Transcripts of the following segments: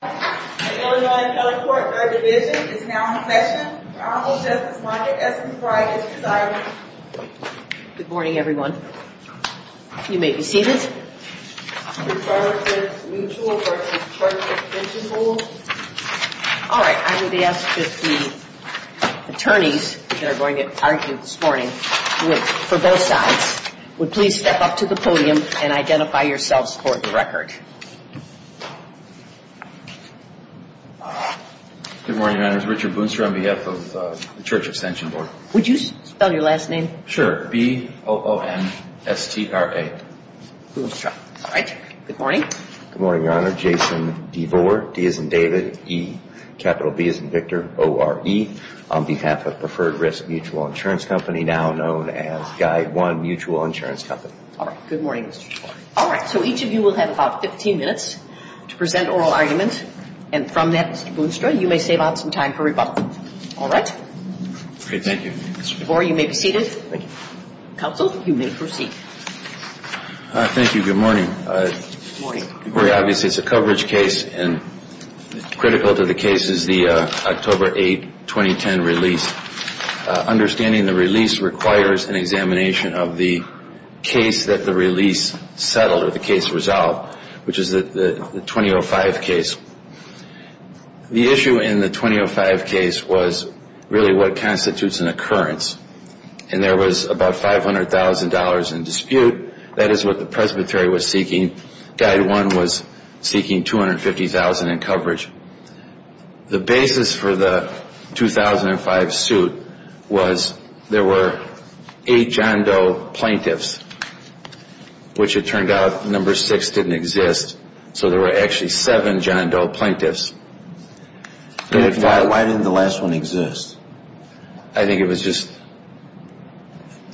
The Illinois Appellate Court, 3rd Division, is now in session for Honorable Justice Margaret S. McBride, Mrs. Ireland. Good morning, everyone. You may be seated. Preferred Risk Mutual versus Church Extension Board. All right, I would ask that the attorneys that are going to argue this morning, for both sides, would please step up to the podium and identify yourselves for the record. Good morning, Your Honor. This is Richard Boonstra on behalf of the Church Extension Board. Would you spell your last name? Sure. B-O-O-N-S-T-R-A. Boonstra. All right. Good morning. Good morning, Your Honor. Jason DeVore, D as in David, E, capital B as in Victor, O-R-E, on behalf of Preferred Risk Mutual Insurance Company, now known as Guide One Mutual Insurance Company. All right. Good morning, Mr. DeVore. All right. So each of you will have about 15 minutes to present oral arguments. And from that, Mr. Boonstra, you may save out some time for rebuttal. All right? Thank you. Mr. DeVore, you may be seated. Counsel, you may proceed. Thank you. Good morning. Good morning. It's a coverage case and critical to the case is the October 8, 2010 release. Understanding the release requires an examination of the case that the release settled or the case resolved, which is the 2005 case. The issue in the 2005 case was really what constitutes an occurrence. And there was about $500,000 in dispute. That is what the presbytery was seeking. Guide One was seeking $250,000 in coverage. The basis for the 2005 suit was there were eight John Doe plaintiffs, which it turned out number six didn't exist. So there were actually seven John Doe plaintiffs. Why didn't the last one exist? I think it was just,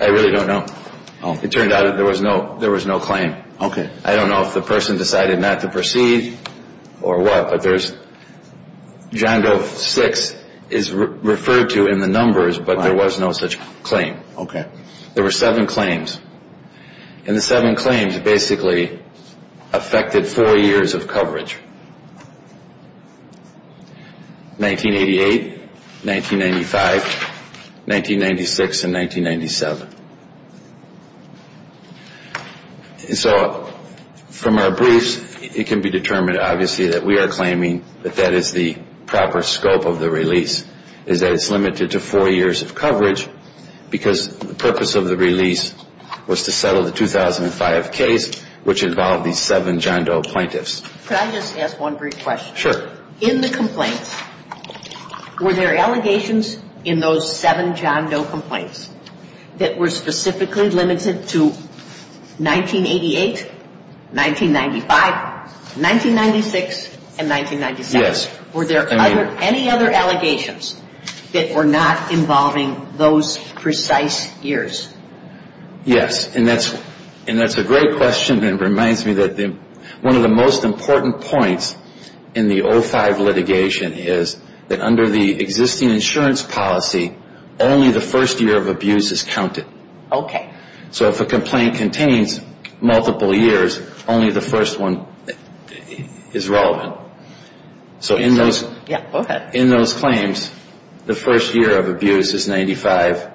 I really don't know. It turned out there was no claim. Okay. I don't know if the person decided not to proceed or what, but there's John Doe six is referred to in the numbers, but there was no such claim. Okay. There were seven claims. And the seven claims basically affected four years of coverage, 1988, 1995, 1996, and 1997. And so from our briefs, it can be determined, obviously, that we are claiming that that is the proper scope of the release, is that it's limited to four years of coverage, because the purpose of the release was to settle the 2005 case, which involved these seven John Doe plaintiffs. Could I just ask one brief question? Sure. In the complaints, were there allegations in those seven John Doe complaints that were specifically limited to 1988, 1995, 1996, and 1997? Yes. Were there any other allegations that were not involving those precise years? Yes. And that's a great question. It reminds me that one of the most important points in the 05 litigation is that under the existing insurance policy, only the first year of abuse is counted. Okay. So if a complaint contains multiple years, only the first one is relevant. No. So in those claims, the first year of abuse is 95,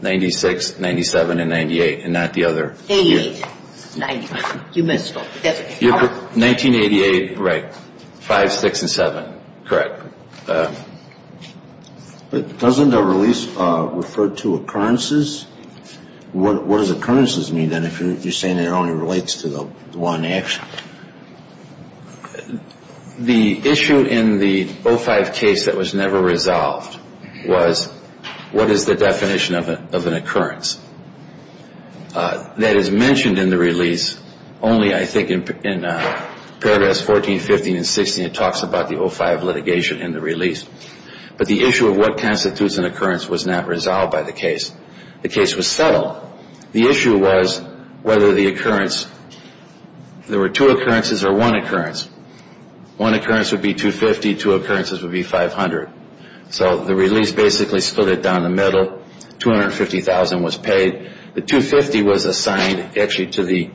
96, 97, and 98, and not the other year. 88, 95. You missed it. 1988, right, 5, 6, and 7. Correct. But doesn't the release refer to occurrences? What does occurrences mean then if you're saying it only relates to the one action? The issue in the 05 case that was never resolved was what is the definition of an occurrence? That is mentioned in the release only, I think, in paragraphs 14, 15, and 16. It talks about the 05 litigation in the release. But the issue of what constitutes an occurrence was not resolved by the case. The case was settled. The issue was whether the occurrence, there were two occurrences or one occurrence. One occurrence would be 250, two occurrences would be 500. So the release basically split it down the middle. $250,000 was paid. The 250 was assigned actually to the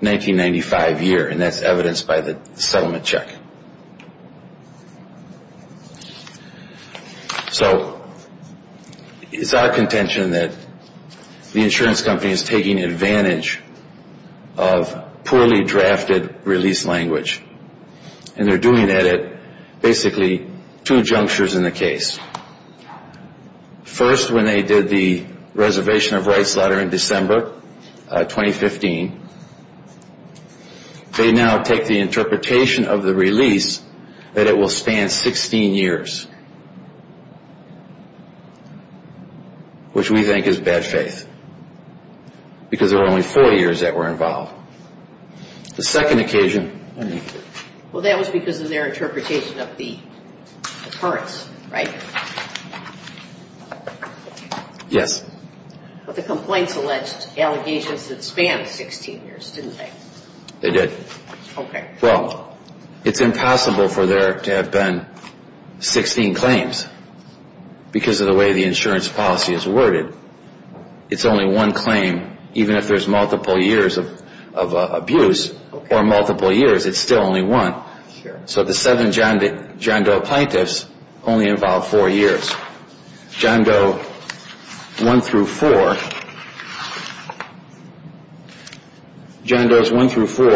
1995 year, and that's evidenced by the settlement check. So it's our contention that the insurance company is taking advantage of poorly drafted release language. And they're doing that at basically two junctures in the case. First, when they did the reservation of rights letter in December 2015, they now take the interpretation of the release that it will span 16 years, which we think is bad faith. Because there were only four years that were involved. The second occasion. Well, that was because of their interpretation of the occurrence, right? Yes. But the complaints alleged allegations that spanned 16 years, didn't they? They did. Okay. Well, it's impossible for there to have been 16 claims because of the way the insurance policy is worded. It's only one claim. Even if there's multiple years of abuse or multiple years, it's still only one. So the seven John Doe plaintiffs only involved four years. John Doe 1 through 4. John Doe's 1 through 4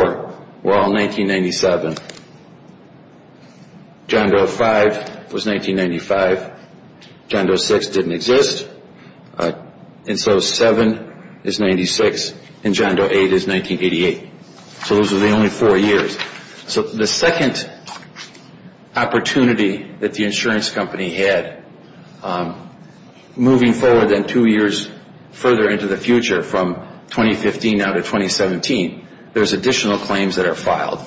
were all 1997. John Doe 5 was 1995. John Doe 6 didn't exist. And so 7 is 96, and John Doe 8 is 1988. So those were the only four years. So the second opportunity that the insurance company had, moving forward then two years further into the future, from 2015 now to 2017, there's additional claims that are filed.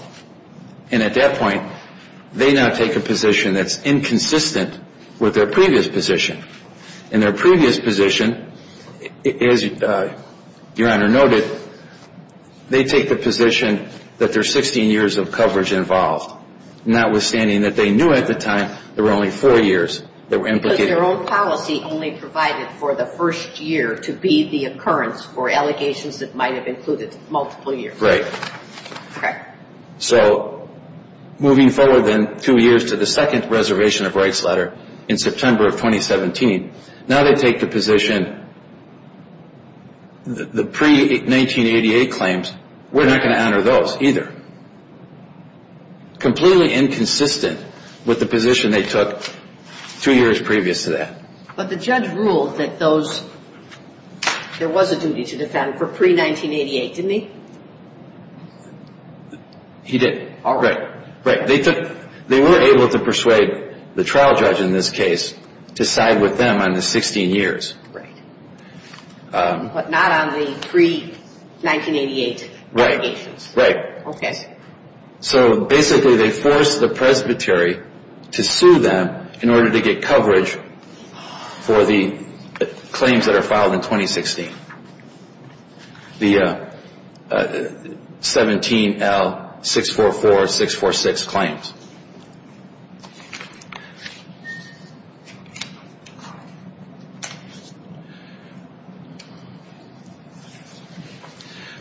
And at that point, they now take a position that's inconsistent with their previous position. In their previous position, as Your Honor noted, they take the position that there's 16 years of coverage involved. Notwithstanding that they knew at the time there were only four years that were implicated. Because their own policy only provided for the first year to be the occurrence for allegations that might have included multiple years. Right. Correct. So moving forward then two years to the second reservation of rights letter in September of 2017, now they take the position that the pre-1988 claims, we're not going to honor those either. Completely inconsistent with the position they took two years previous to that. But the judge ruled that there was a duty to defend for pre-1988, didn't he? He did. All right. Right. They were able to persuade the trial judge in this case to side with them on the 16 years. Right. But not on the pre-1988 allegations. Right. Okay. So basically they forced the presbytery to sue them in order to get coverage for the claims that are filed in 2016. The 17L644646 claims.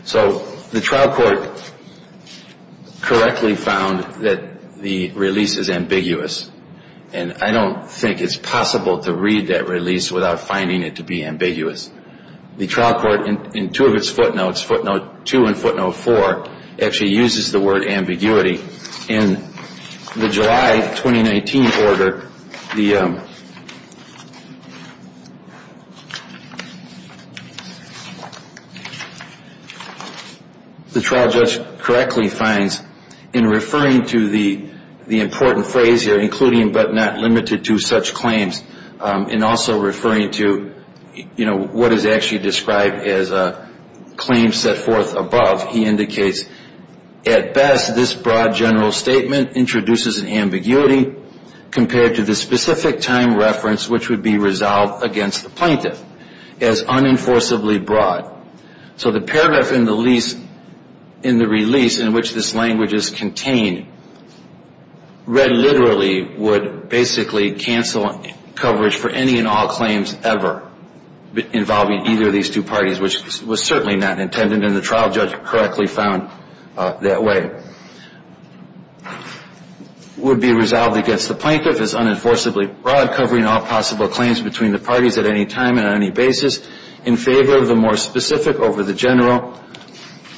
So the trial court correctly found that the release is ambiguous. And I don't think it's possible to read that release without finding it to be ambiguous. The trial court in two of its footnotes, footnote two and footnote four, actually uses the word ambiguity. In the July 2019 order, the trial judge correctly finds in referring to the important phrase here, including but not limited to such claims and also referring to, you know, what is actually described as a claim set forth above. He indicates, at best, this broad general statement introduces an ambiguity compared to the specific time reference which would be resolved against the plaintiff as unenforceably broad. So the paragraph in the release in which this language is contained, read literally, would basically cancel coverage for any and all claims ever involving either of these two parties, which was certainly not intended and the trial judge correctly found that way. Would be resolved against the plaintiff as unenforceably broad, covering all possible claims between the parties at any time and on any basis in favor of the more specific over the general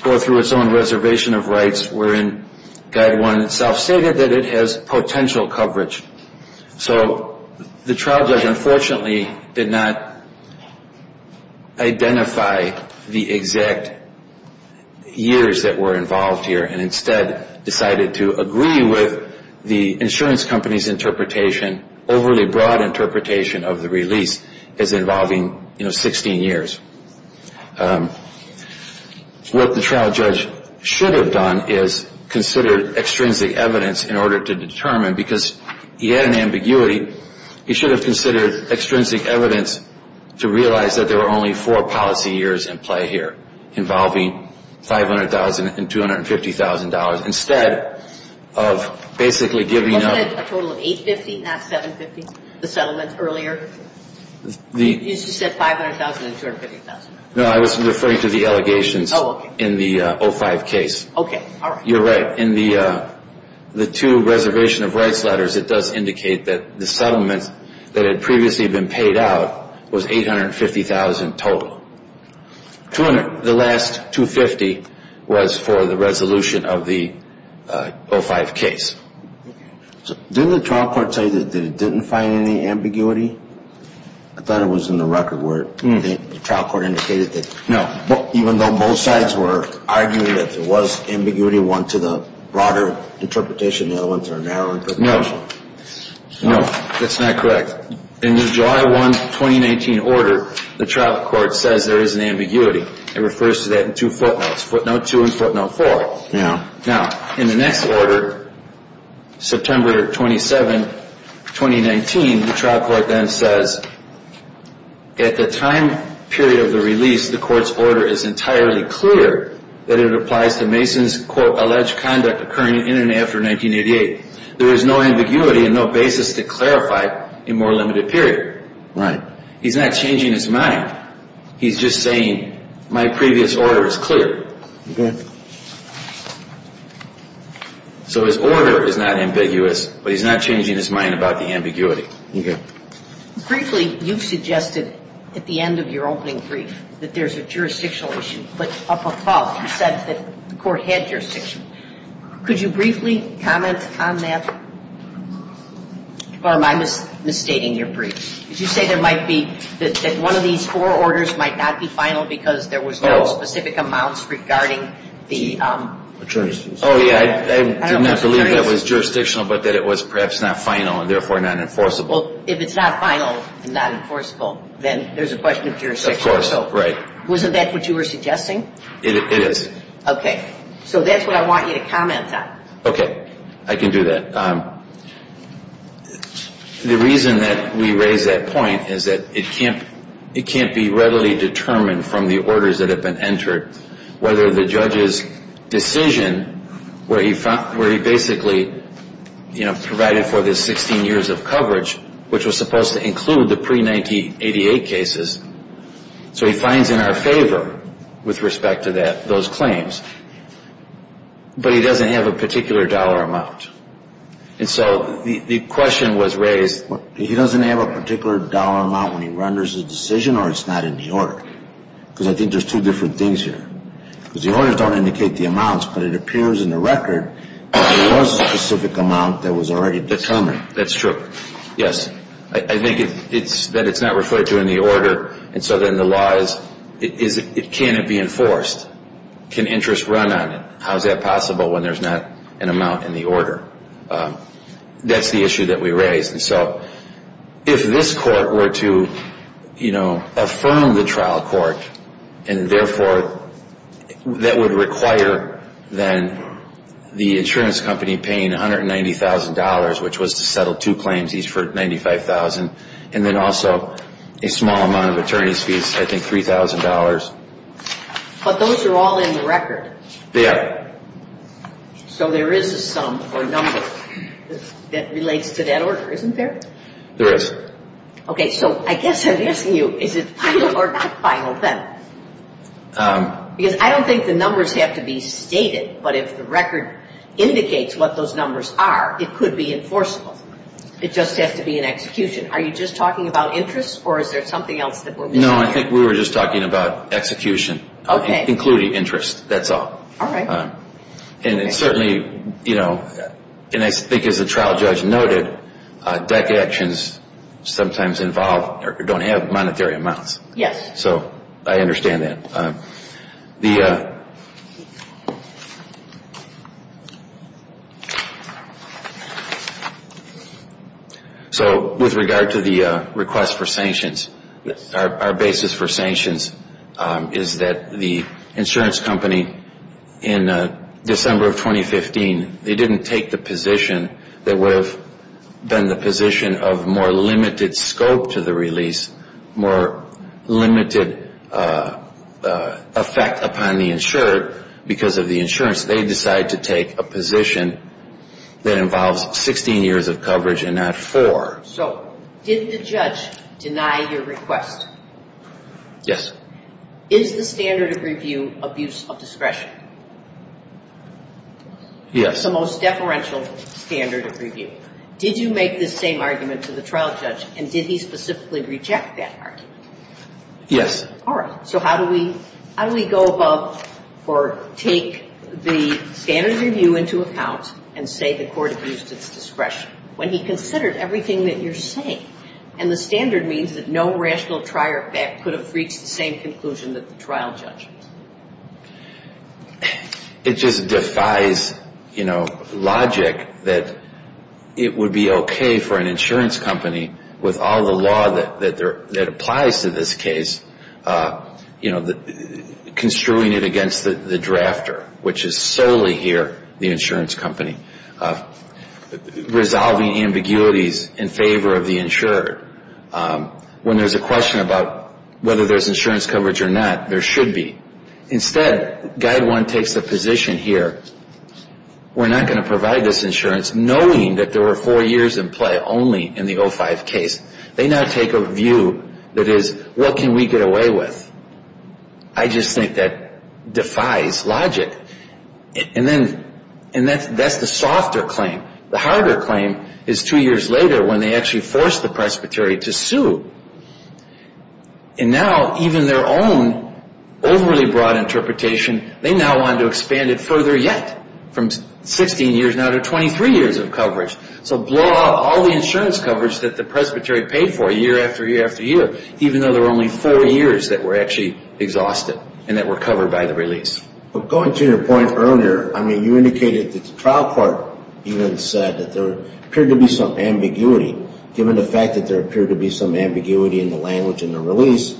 or through its own reservation of rights wherein guide one itself stated that it has potential coverage. So the trial judge unfortunately did not identify the exact years that were involved here and instead decided to agree with the insurance company's interpretation, overly broad interpretation of the release as involving, you know, 16 years. What the trial judge should have done is considered extrinsic evidence in order to determine, because he had an ambiguity, he should have considered extrinsic evidence to realize that there were only four policy years in play here involving $500,000 and $250,000 instead of basically giving up. You said a total of $850,000, not $750,000, the settlement earlier? You said $500,000 and $250,000. No, I was referring to the allegations in the 05 case. Okay. All right. You're right. In the two reservation of rights letters, it does indicate that the settlement that had previously been paid out was $850,000 total. The last $250,000 was for the resolution of the 05 case. Didn't the trial court tell you that it didn't find any ambiguity? I thought it was in the record where the trial court indicated that, even though both sides were arguing that there was ambiguity, one to the broader interpretation and the other one to the narrow interpretation. No, that's not correct. In the July 1, 2019 order, the trial court says there is an ambiguity. It refers to that in two footnotes, footnote 2 and footnote 4. Yeah. Now, in the next order, September 27, 2019, the trial court then says, at the time period of the release, the court's order is entirely clear that it applies to Mason's, quote, alleged conduct occurring in and after 1988. There is no ambiguity and no basis to clarify a more limited period. Right. He's not changing his mind. He's just saying my previous order is clear. Okay. So his order is not ambiguous, but he's not changing his mind about the ambiguity. Okay. Briefly, you've suggested at the end of your opening brief that there's a jurisdictional issue, but up above you said that the court had jurisdiction. Could you briefly comment on that? Or am I misstating your brief? Did you say there might be that one of these four orders might not be final because there was no specific amounts regarding the attorneys? Oh, yeah. I did not believe that was jurisdictional, but that it was perhaps not final and therefore not enforceable. Well, if it's not final and not enforceable, then there's a question of jurisdiction. Of course. Right. Wasn't that what you were suggesting? It is. Okay. So that's what I want you to comment on. Okay. I can do that. The reason that we raise that point is that it can't be readily determined from the orders that have been entered whether the judge's decision where he basically provided for the 16 years of coverage, which was supposed to include the pre-1988 cases, so he finds in our favor with respect to those claims, but he doesn't have a particular dollar amount. And so the question was raised. He doesn't have a particular dollar amount when he renders his decision or it's not in the order? Because I think there's two different things here. Because the orders don't indicate the amounts, but it appears in the record that there was a specific amount that was already determined. That's true. Yes. I think that it's not referred to in the order, and so then the law is can it be enforced? Can interest run on it? How is that possible when there's not an amount in the order? That's the issue that we raised. And so if this court were to, you know, affirm the trial court, and therefore that would require then the insurance company paying $190,000, which was to settle two claims, each for $95,000, and then also a small amount of attorney's fees, I think $3,000. But those are all in the record. They are. So there is a sum or number that relates to that order, isn't there? There is. Okay. So I guess I'm asking you, is it final or not final then? Because I don't think the numbers have to be stated, but if the record indicates what those numbers are, it could be enforceable. It just has to be an execution. Are you just talking about interest, or is there something else that we're missing? No, I think we were just talking about execution, including interest. That's all. All right. And certainly, you know, and I think as the trial judge noted, DECA actions sometimes involve or don't have monetary amounts. Yes. So I understand that. So with regard to the request for sanctions, our basis for sanctions is that the insurance company in December of 2015, they didn't take the position that would have been the position of more limited scope to the release, more limited effect upon the insured because of the insurance. They decided to take a position that involves 16 years of coverage and not four. So did the judge deny your request? Yes. Is the standard of review abuse of discretion? It's the most deferential standard of review. Did you make this same argument to the trial judge, and did he specifically reject that argument? Yes. All right. So how do we go above or take the standard of review into account and say the court abused its discretion when he considered everything that you're saying? And the standard means that no rational trier of fact could have reached the same conclusion that the trial judge. It just defies, you know, logic that it would be okay for an insurance company with all the law that applies to this case, you know, construing it against the drafter, which is solely here the insurance company, resolving ambiguities in favor of the insured. When there's a question about whether there's insurance coverage or not, there should be. Instead, Guide 1 takes the position here, we're not going to provide this insurance, knowing that there were four years in play only in the 05 case. They now take a view that is, what can we get away with? I just think that defies logic. And that's the softer claim. The harder claim is two years later when they actually forced the presbytery to sue. And now even their own overly broad interpretation, they now want to expand it further yet, from 16 years now to 23 years of coverage. So blow out all the insurance coverage that the presbytery paid for year after year after year, even though there were only four years that were actually exhausted and that were covered by the release. But going to your point earlier, I mean, you indicated that the trial court even said that there appeared to be some ambiguity. Given the fact that there appeared to be some ambiguity in the language in the release,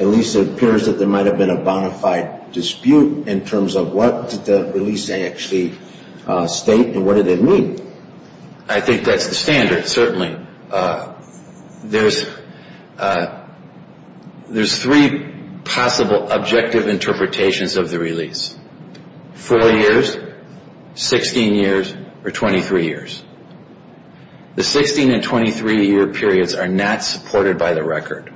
at least it appears that there might have been a bona fide dispute in terms of what did the release actually state and what did it mean? I think that's the standard, certainly. There's three possible objective interpretations of the release. Four years, 16 years, or 23 years. The 16 and 23-year periods are not supported by the record.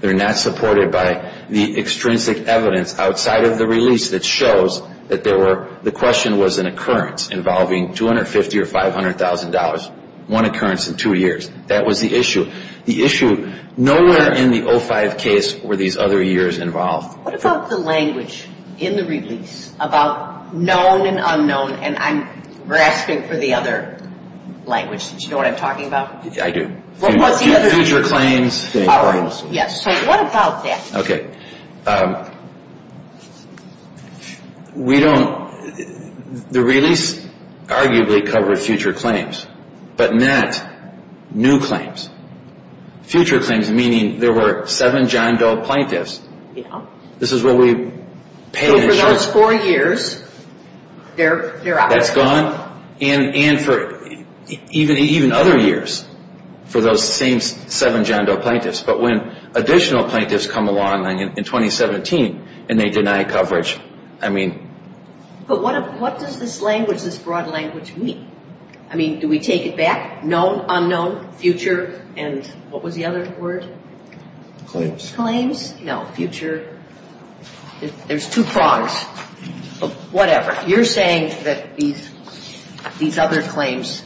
They're not supported by the extrinsic evidence outside of the release that shows that the question was an occurrence involving $250,000 or $500,000, one occurrence in two years. That was the issue. The issue, nowhere in the 05 case were these other years involved. What about the language in the release about known and unknown? And I'm grasping for the other language. Do you know what I'm talking about? I do. Feature claims. Feature claims. Yes. So what about that? Okay. We don't, the release arguably covered future claims, but not new claims. Future claims meaning there were seven John Doe plaintiffs. Yeah. This is where we pay insurance. So for those four years, they're out. That's gone. And for even other years, for those same seven John Doe plaintiffs. But when additional plaintiffs come along in 2017 and they deny coverage, I mean. But what does this language, this broad language mean? I mean, do we take it back? Known, unknown, future, and what was the other word? Claims. Claims. No, future. There's two prongs. Whatever. You're saying that these other claims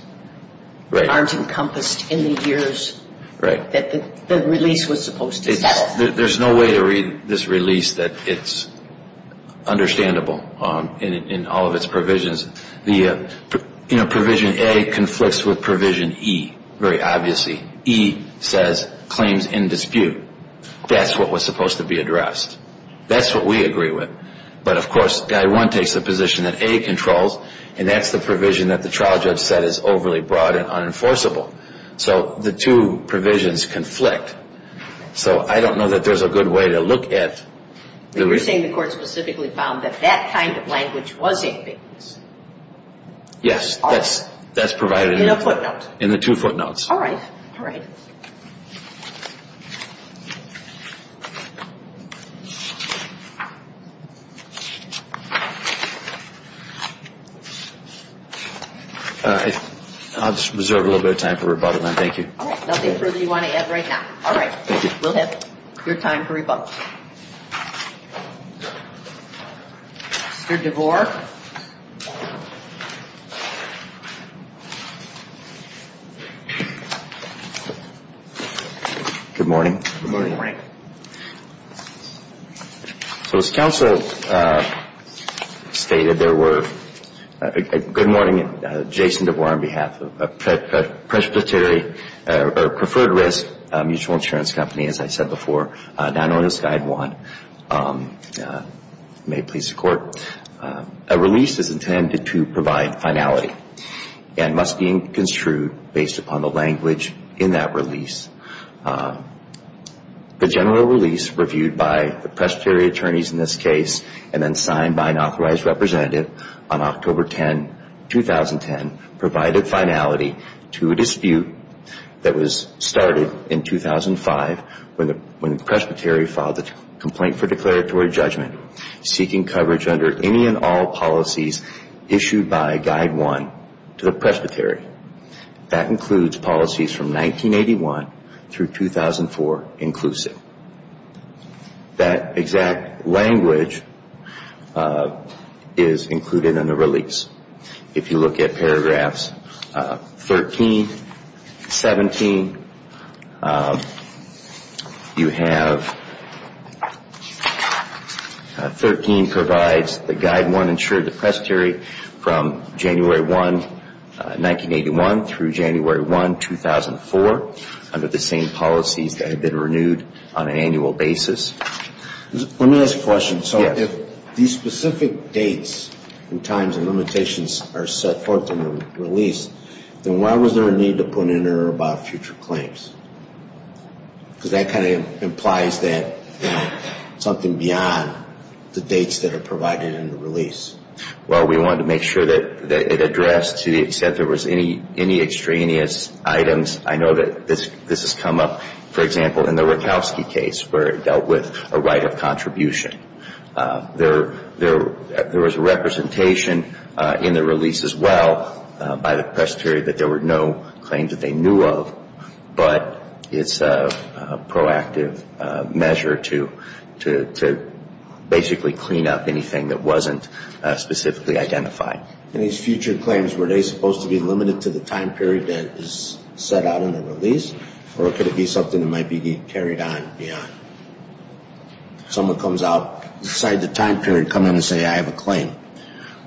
aren't encompassed in the years. Right. That the release was supposed to settle. There's no way to read this release that it's understandable in all of its provisions. The provision A conflicts with provision E, very obviously. E says claims in dispute. That's what was supposed to be addressed. That's what we agree with. But, of course, Guide 1 takes the position that A controls, and that's the provision that the trial judge said is overly broad and unenforceable. So the two provisions conflict. So I don't know that there's a good way to look at the release. But you're saying the court specifically found that that kind of language was in it. Yes. That's provided in the two footnotes. All right. All right. I'll just reserve a little bit of time for rebuttal, then. Thank you. All right. Nothing further you want to add right now. All right. We'll have your time for rebuttal. Mr. DeVore. Good morning. Good morning. So as counsel stated, there were good morning, Jason DeVore, on behalf of Presbyterian, or Preferred Risk Mutual Insurance Company, as I said before, not on this Guide 1. May it please the Court. A release is intended to provide finality and must be construed based upon the language in that release. The general release reviewed by the presbytery attorneys in this case and then signed by an authorized representative on October 10, 2010, provided finality to a dispute that was started in 2005 when the presbytery filed a complaint for declaratory judgment, seeking coverage under any and all policies issued by Guide 1 to the presbytery. That includes policies from 1981 through 2004 inclusive. That exact language is included in the release. If you look at paragraphs 13, 17, you have 13 provides the Guide 1 insured the presbytery from January 1, 1981 through January 1, 2004 under the same policies that have been renewed on an annual basis. Let me ask a question. If these specific dates and times and limitations are set forth in the release, then why was there a need to put in or about future claims? Because that kind of implies that something beyond the dates that are provided in the release. Well, we wanted to make sure that it addressed to the extent there was any extraneous items. I know that this has come up, for example, in the Rakowski case where it dealt with a right of contribution. There was a representation in the release as well by the presbytery that there were no claims that they knew of, but it's a proactive measure to basically clean up anything that wasn't specifically identified. In these future claims, were they supposed to be limited to the time period that is set out in the release, or could it be something that might be carried on beyond? Someone comes out, decide the time period, come in and say, I have a claim.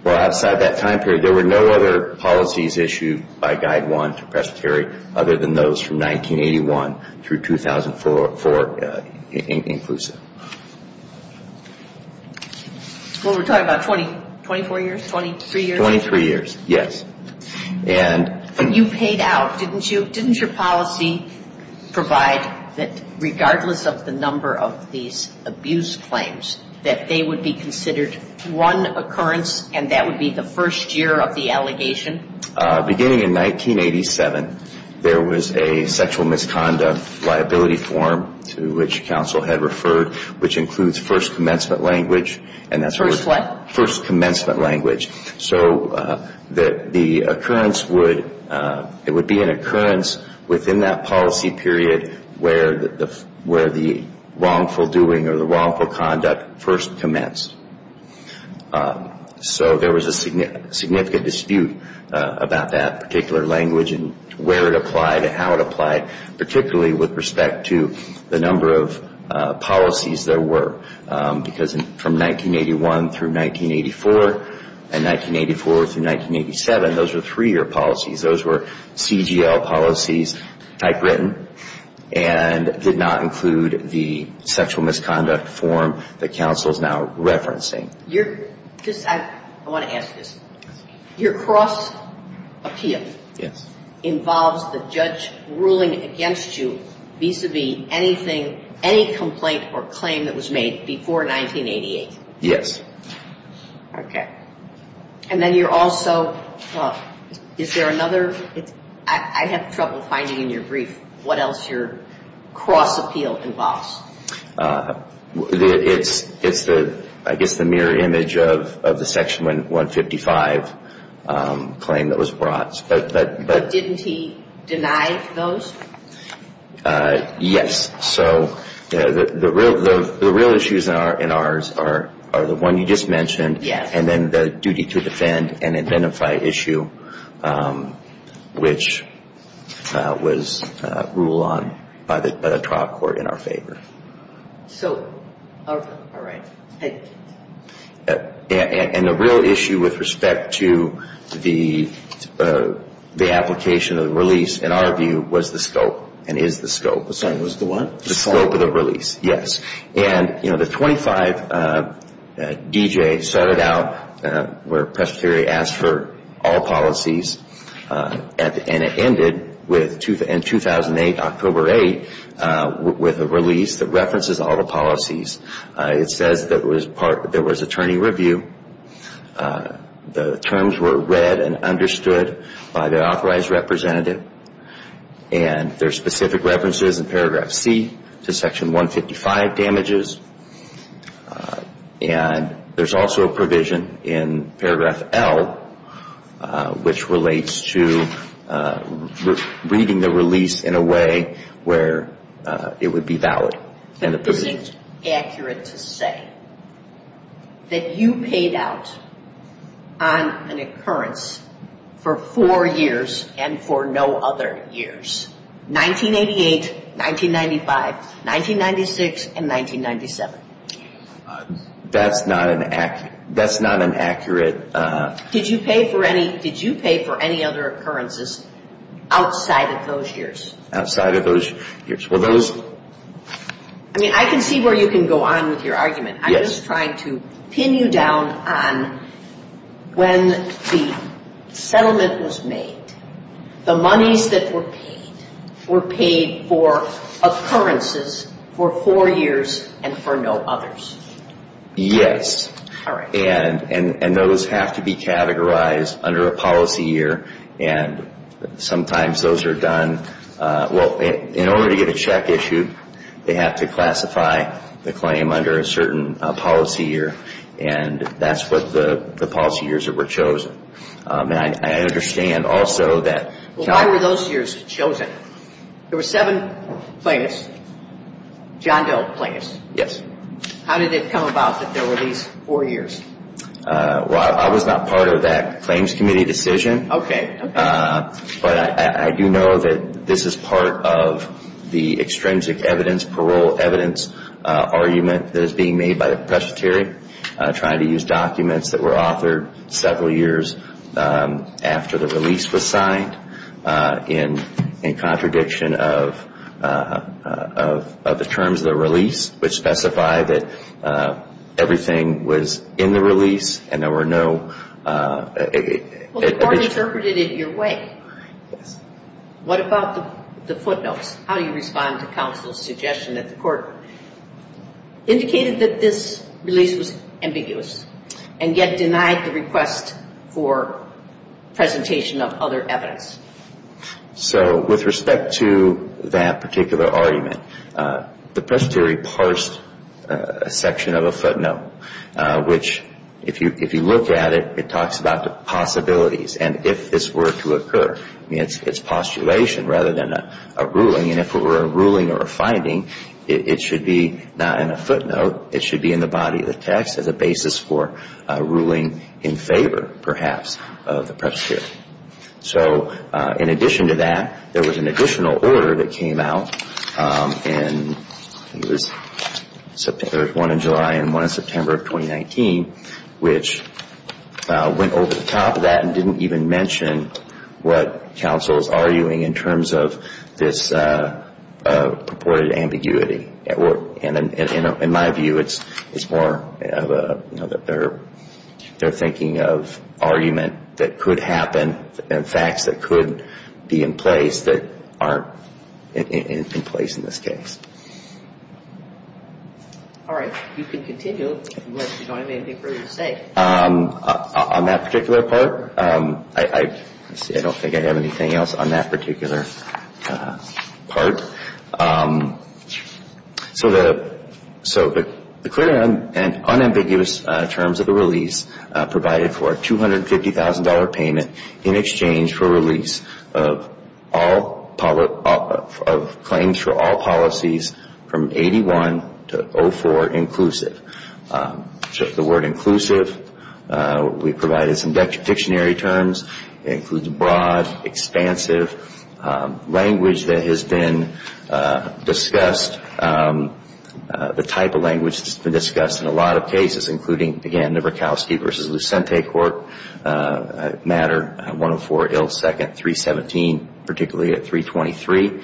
Well, outside that time period, there were no other policies issued by Guide 1 to presbytery other than those from 1981 through 2004 inclusive. Well, we're talking about 24 years, 23 years? Twenty-three years, yes. And you paid out, didn't you? Didn't your policy provide that regardless of the number of these abuse claims, that they would be considered one occurrence and that would be the first year of the allegation? Beginning in 1987, there was a sexual misconduct liability form to which counsel had referred. Which includes first commencement language. First what? First commencement language. So the occurrence would be an occurrence within that policy period where the wrongful doing or the wrongful conduct first commenced. So there was a significant dispute about that particular language and where it applied and how it applied, particularly with respect to the number of policies there were. Because from 1981 through 1984 and 1984 through 1987, those were three-year policies. Those were CGL policies, typewritten, and did not include the sexual misconduct form that counsel is now referencing. I want to ask this. Your cross appeal involves the judge ruling against you vis-a-vis anything, any complaint or claim that was made before 1988? Yes. Okay. And then you're also, is there another? I have trouble finding in your brief what else your cross appeal involves. It's the, I guess, the mirror image of the Section 155 claim that was brought. But didn't he deny those? Yes. So the real issues in ours are the one you just mentioned. Yes. And then the duty to defend and identify issue, which was ruled on by the trial court in our favor. So, all right. And the real issue with respect to the application of the release, in our view, was the scope and is the scope. Sorry, was the what? The scope of the release. Yes. And, you know, the 25 D.J. started out where Presbyterian asked for all policies and it ended in 2008, October 8, with a release that references all the policies. It says there was attorney review. The terms were read and understood by the authorized representative. And there's specific references in Paragraph C to Section 155 damages. And there's also a provision in Paragraph L, which relates to reading the release in a way where it would be valid. This isn't accurate to say that you paid out on an occurrence for four years and for no other years, 1988, 1995, 1996, and 1997. That's not an accurate. Did you pay for any other occurrences outside of those years? Outside of those years. I mean, I can see where you can go on with your argument. I'm just trying to pin you down on when the settlement was made. The monies that were paid were paid for occurrences for four years and for no others. Yes. All right. And those have to be categorized under a policy year. And sometimes those are done, well, in order to get a check issued, they have to classify the claim under a certain policy year. And that's what the policy years that were chosen. And I understand also that. Well, why were those years chosen? There were seven plaintiffs, John Doe plaintiffs. Yes. How did it come about that there were these four years? Well, I was not part of that claims committee decision. Okay. But I do know that this is part of the extrinsic evidence, parole evidence argument that is being made by the presbytery, trying to use documents that were authored several years after the release was signed in contradiction of the terms of the release, which specify that everything was in the release and there were no... Well, the court interpreted it your way. Yes. What about the footnotes? How do you respond to counsel's suggestion that the court indicated that this release was ambiguous and yet denied the request for presentation of other evidence? So with respect to that particular argument, the presbytery parsed a section of a footnote, which if you look at it, it talks about the possibilities and if this were to occur. I mean, it's postulation rather than a ruling. And if it were a ruling or a finding, it should be not in a footnote. It should be in the body of the text as a basis for a ruling in favor, perhaps, of the presbytery. So in addition to that, there was an additional order that came out, and there was one in July and one in September of 2019, which went over the top of that and didn't even mention what counsel is arguing in terms of this purported ambiguity. And in my view, it's more that they're thinking of argument that could happen and facts that could be in place that aren't in place in this case. All right. You can continue unless you don't have anything further to say. On that particular part, I don't think I have anything else on that particular part. So the clear and unambiguous terms of the release provided for a $250,000 payment in exchange for release of claims for all policies from 81 to 04 inclusive. So the word inclusive, we provided some dictionary terms. It includes broad, expansive language that has been discussed, the type of language that's been discussed in a lot of cases, including, again, the Verkowski v. Lucente court matter, 104 ill second 317, particularly at 323.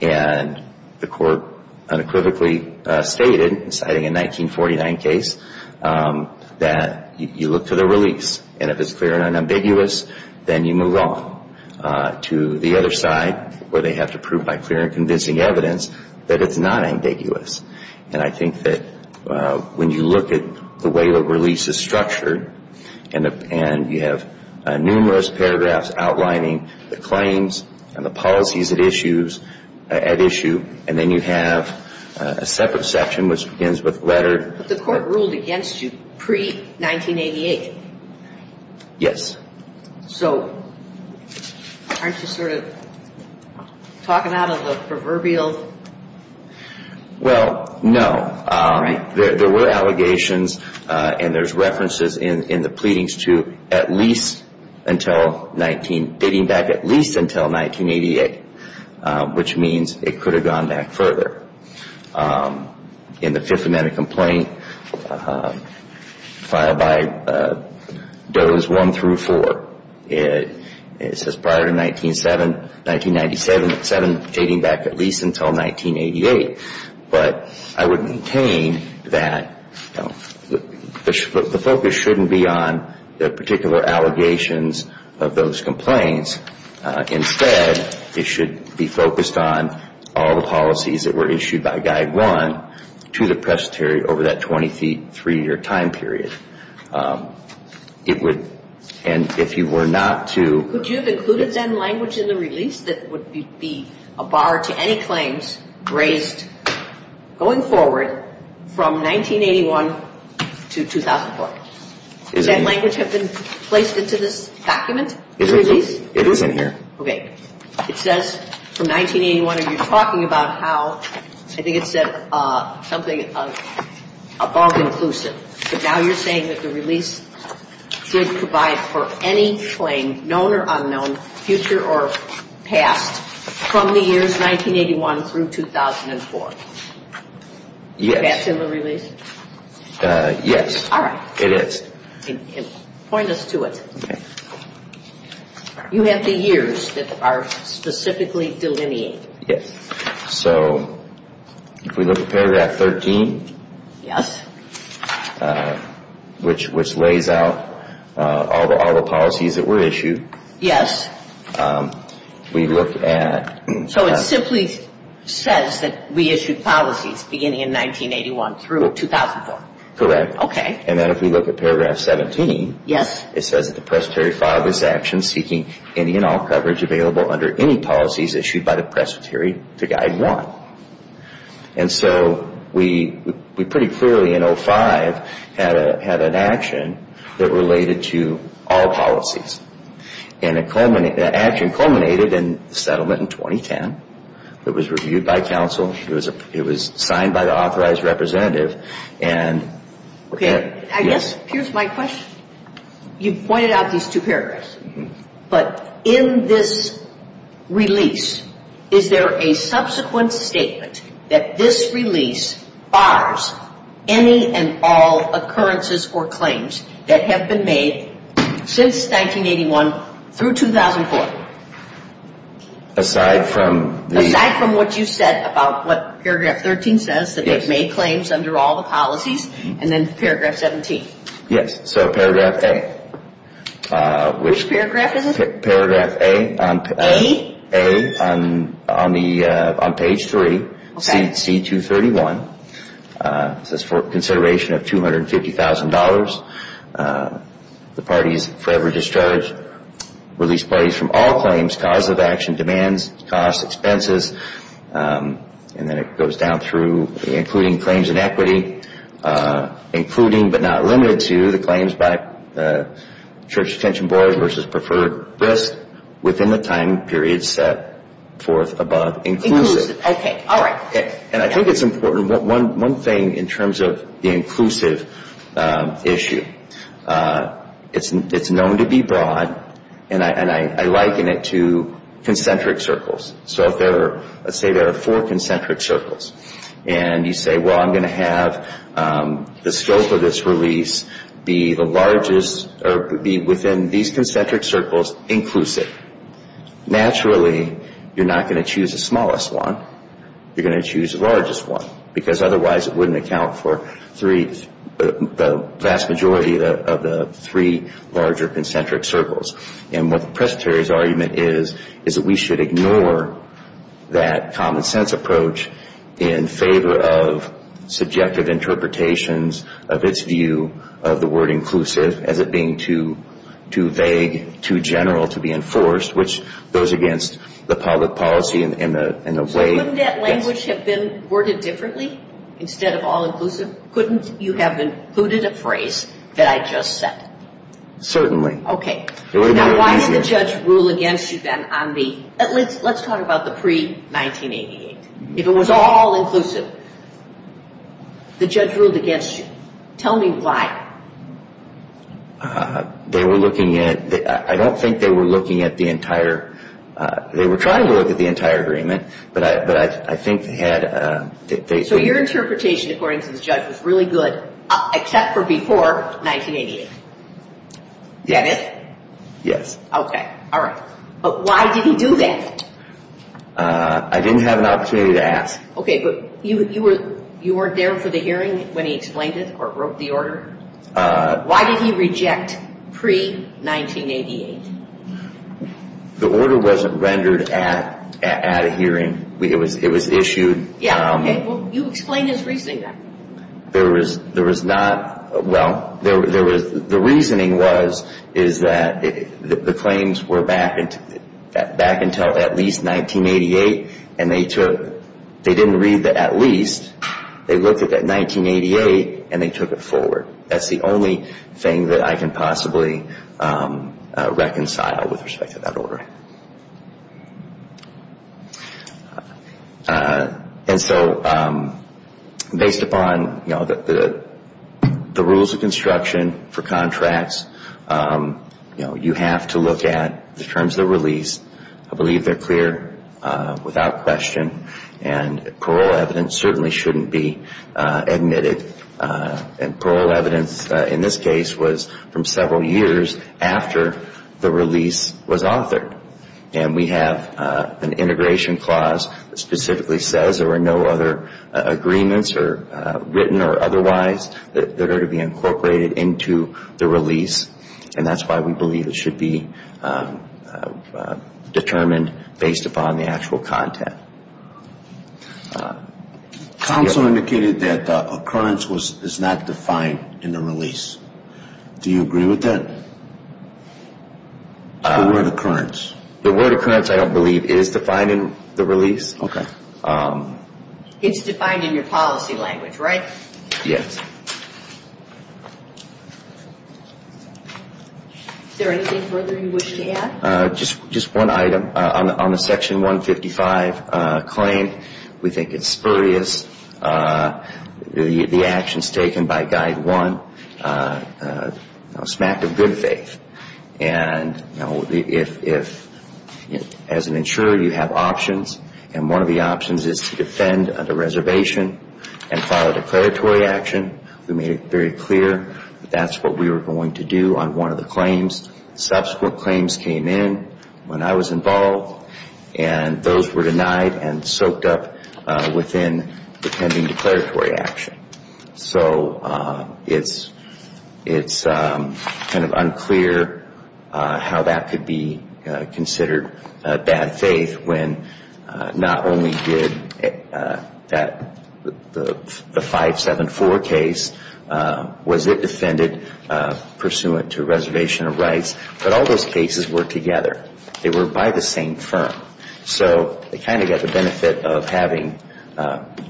And the court unequivocally stated, citing a 1949 case, that you look to the release. And if it's clear and unambiguous, then you move on to the other side, where they have to prove by clear and convincing evidence that it's not ambiguous. And I think that when you look at the way the release is structured And you have numerous paragraphs outlining the claims and the policies at issue. And then you have a separate section which begins with letter. But the court ruled against you pre-1988. Yes. So aren't you sort of talking out of the proverbial? Well, no. There were allegations and there's references in the pleadings to at least until 19, dating back at least until 1988, which means it could have gone back further. In the Fifth Amendment complaint filed by Does 1 through 4, it says prior to 1997, dating back at least until 1988. But I would maintain that the focus shouldn't be on the particular allegations of those complaints. Instead, it should be focused on all the policies that were issued by Guide 1 to the prestigiary over that 23-year time period. And if you were not to Could you have included then language in the release that would be a bar to any claims raised going forward from 1981 to 2004? Does that language have been placed into this document? It is in here. Okay. It says from 1981, and you're talking about how I think it said something above inclusive. But now you're saying that the release should provide for any claim, known or unknown, future or past, from the years 1981 through 2004. Yes. Is that in the release? Yes. All right. It is. Point us to it. Okay. You have the years that are specifically delineated. Yes. So if we look at paragraph 13. Yes. Which lays out all the policies that were issued. Yes. We look at So it simply says that we issued policies beginning in 1981 through 2004. Correct. Okay. And then if we look at paragraph 17. Yes. It says that the presbytery filed this action seeking any and all coverage available under any policies issued by the presbytery to guide one. And so we pretty clearly in 05 had an action that related to all policies. And that action culminated in the settlement in 2010. It was reviewed by counsel. It was signed by the authorized representative. Okay. Yes. Here's my question. You pointed out these two paragraphs. But in this release, is there a subsequent statement that this release bars any and all occurrences or claims that have been made since 1981 through 2004? Aside from the Aside from what you said about what paragraph 13 says. Yes. And then paragraph 17. Yes. So paragraph A. Which paragraph is it? Paragraph A. A? A on page 3. Okay. C231. It says for consideration of $250,000. The parties forever discharged. Release parties from all claims, cause of action, demands, costs, expenses. And then it goes down through including claims in equity. Including but not limited to the claims by the Church Detention Board versus preferred risk within the time period set forth above inclusive. Inclusive. Okay. All right. And I think it's important. One thing in terms of the inclusive issue. It's known to be broad. And I liken it to concentric circles. So let's say there are four concentric circles. And you say, well, I'm going to have the scope of this release be the largest or be within these concentric circles inclusive. Naturally, you're not going to choose the smallest one. You're going to choose the largest one. Because otherwise it wouldn't account for the vast majority of the three larger concentric circles. And what the Presbyterian's argument is, is that we should ignore that common sense approach in favor of subjective interpretations of its view of the word inclusive as it being too vague, too general to be enforced, which goes against the public policy in a way. Couldn't that language have been worded differently instead of all inclusive? Couldn't you have included a phrase that I just said? Certainly. Okay. Now, why did the judge rule against you then on the – let's talk about the pre-1988. If it was all inclusive, the judge ruled against you. Tell me why. They were looking at – I don't think they were looking at the entire – they were trying to look at the entire agreement, but I think they had – So your interpretation, according to the judge, was really good except for before 1988. That is? Yes. Okay. All right. But why did he do that? I didn't have an opportunity to ask. Okay, but you weren't there for the hearing when he explained it or wrote the order? Why did he reject pre-1988? The order wasn't rendered at a hearing. It was issued – Yeah, okay. Well, you explain his reasoning then. There was not – well, there was – the reasoning was is that the claims were back until at least 1988 and they took – they didn't read the at least. They looked at that 1988 and they took it forward. That's the only thing that I can possibly reconcile with respect to that order. Okay. And so based upon the rules of construction for contracts, you have to look at the terms of the release. I believe they're clear without question and parole evidence certainly shouldn't be admitted. And parole evidence in this case was from several years after the release was authored. And we have an integration clause that specifically says there are no other agreements, written or otherwise, that are to be incorporated into the release. And that's why we believe it should be determined based upon the actual content. Counsel indicated that occurrence is not defined in the release. Do you agree with that? The word occurrence. The word occurrence I don't believe is defined in the release. Okay. It's defined in your policy language, right? Yes. Is there anything further you wish to add? Just one item. On the Section 155 claim, we think it's spurious. The actions taken by Guide 1, smack of good faith. And as an insurer, you have options. And one of the options is to defend under reservation and file a declaratory action. We made it very clear that that's what we were going to do on one of the claims. Subsequent claims came in when I was involved. And those were denied and soaked up within the pending declaratory action. So it's kind of unclear how that could be considered bad faith when not only did the 574 case, was it defended pursuant to reservation of rights, but all those cases were together. They were by the same firm. So they kind of got the benefit of having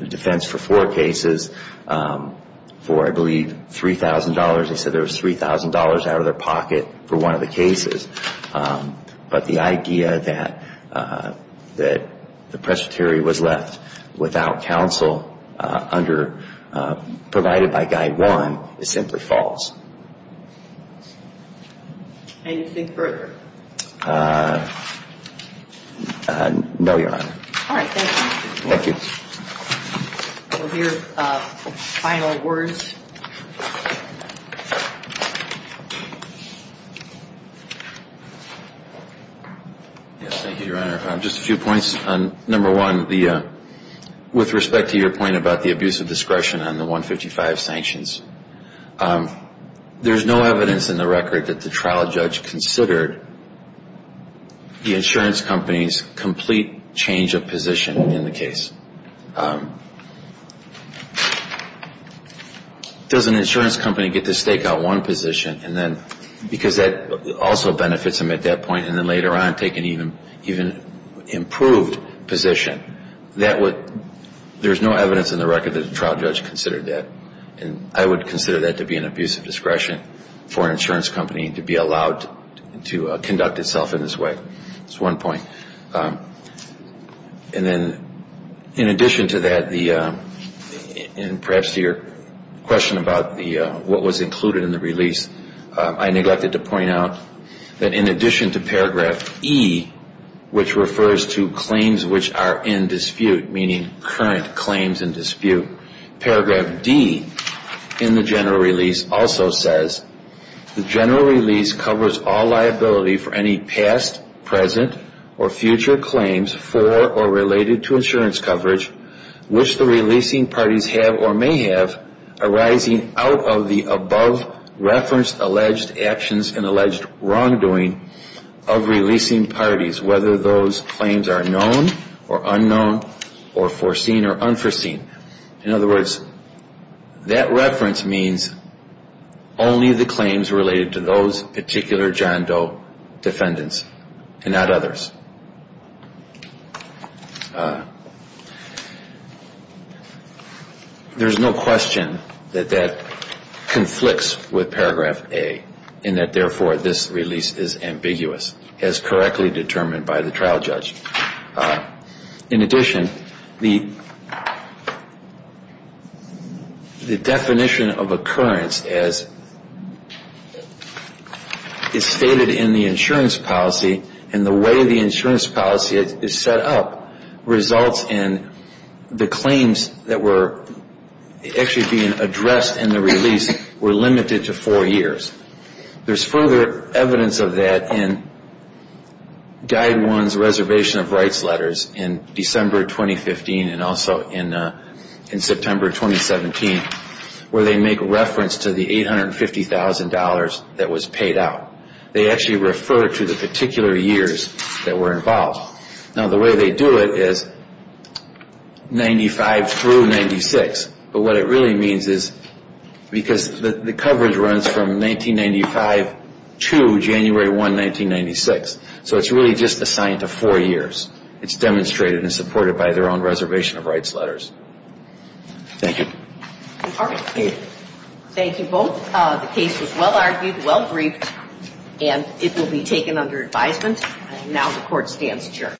defense for four cases for, I believe, $3,000. They said there was $3,000 out of their pocket for one of the cases. But the idea that the presbytery was left without counsel provided by Guide 1 is simply false. Can you think further? No, Your Honor. All right. Thank you. Thank you. We'll hear final words. Yes, thank you, Your Honor. Just a few points. Number one, with respect to your point about the abuse of discretion on the 155 sanctions, there's no evidence in the record that the trial judge considered the insurance company's complete change of position in the case. Does an insurance company get to stake out one position because that also benefits them at that point and then later on take an even improved position? There's no evidence in the record that the trial judge considered that. And I would consider that to be an abuse of discretion for an insurance company to be allowed to conduct itself in this way. That's one point. And then in addition to that, and perhaps to your question about what was included in the release, I neglected to point out that in addition to paragraph E, which refers to claims which are in dispute, meaning current claims in dispute, paragraph D in the general release also says, the general release covers all liability for any past, present, or future claims for or related to insurance coverage which the releasing parties have or may have arising out of the above-referenced alleged actions and alleged wrongdoing of releasing parties, whether those claims are known or unknown or foreseen or unforeseen. In other words, that reference means only the claims related to those particular John Doe defendants and not others. There's no question that that conflicts with paragraph A in that therefore this release is ambiguous, as correctly determined by the trial judge. In addition, the definition of occurrence as is stated in the insurance policy and the way the insurance policy is set up results in the claims that were actually being addressed in the release were limited to four years. There's further evidence of that in Guide One's reservation of rights letters in December 2015 and also in September 2017 where they make reference to the $850,000 that was paid out. They actually refer to the particular years that were involved. Now the way they do it is 95 through 96, but what it really means is because the coverage runs from 1995 to January 1, 1996, so it's really just assigned to four years. It's demonstrated and supported by their own reservation of rights letters. Thank you. Thank you both. The case was well-argued, well-briefed, and it will be taken under advisement. Now the Court stands adjourned.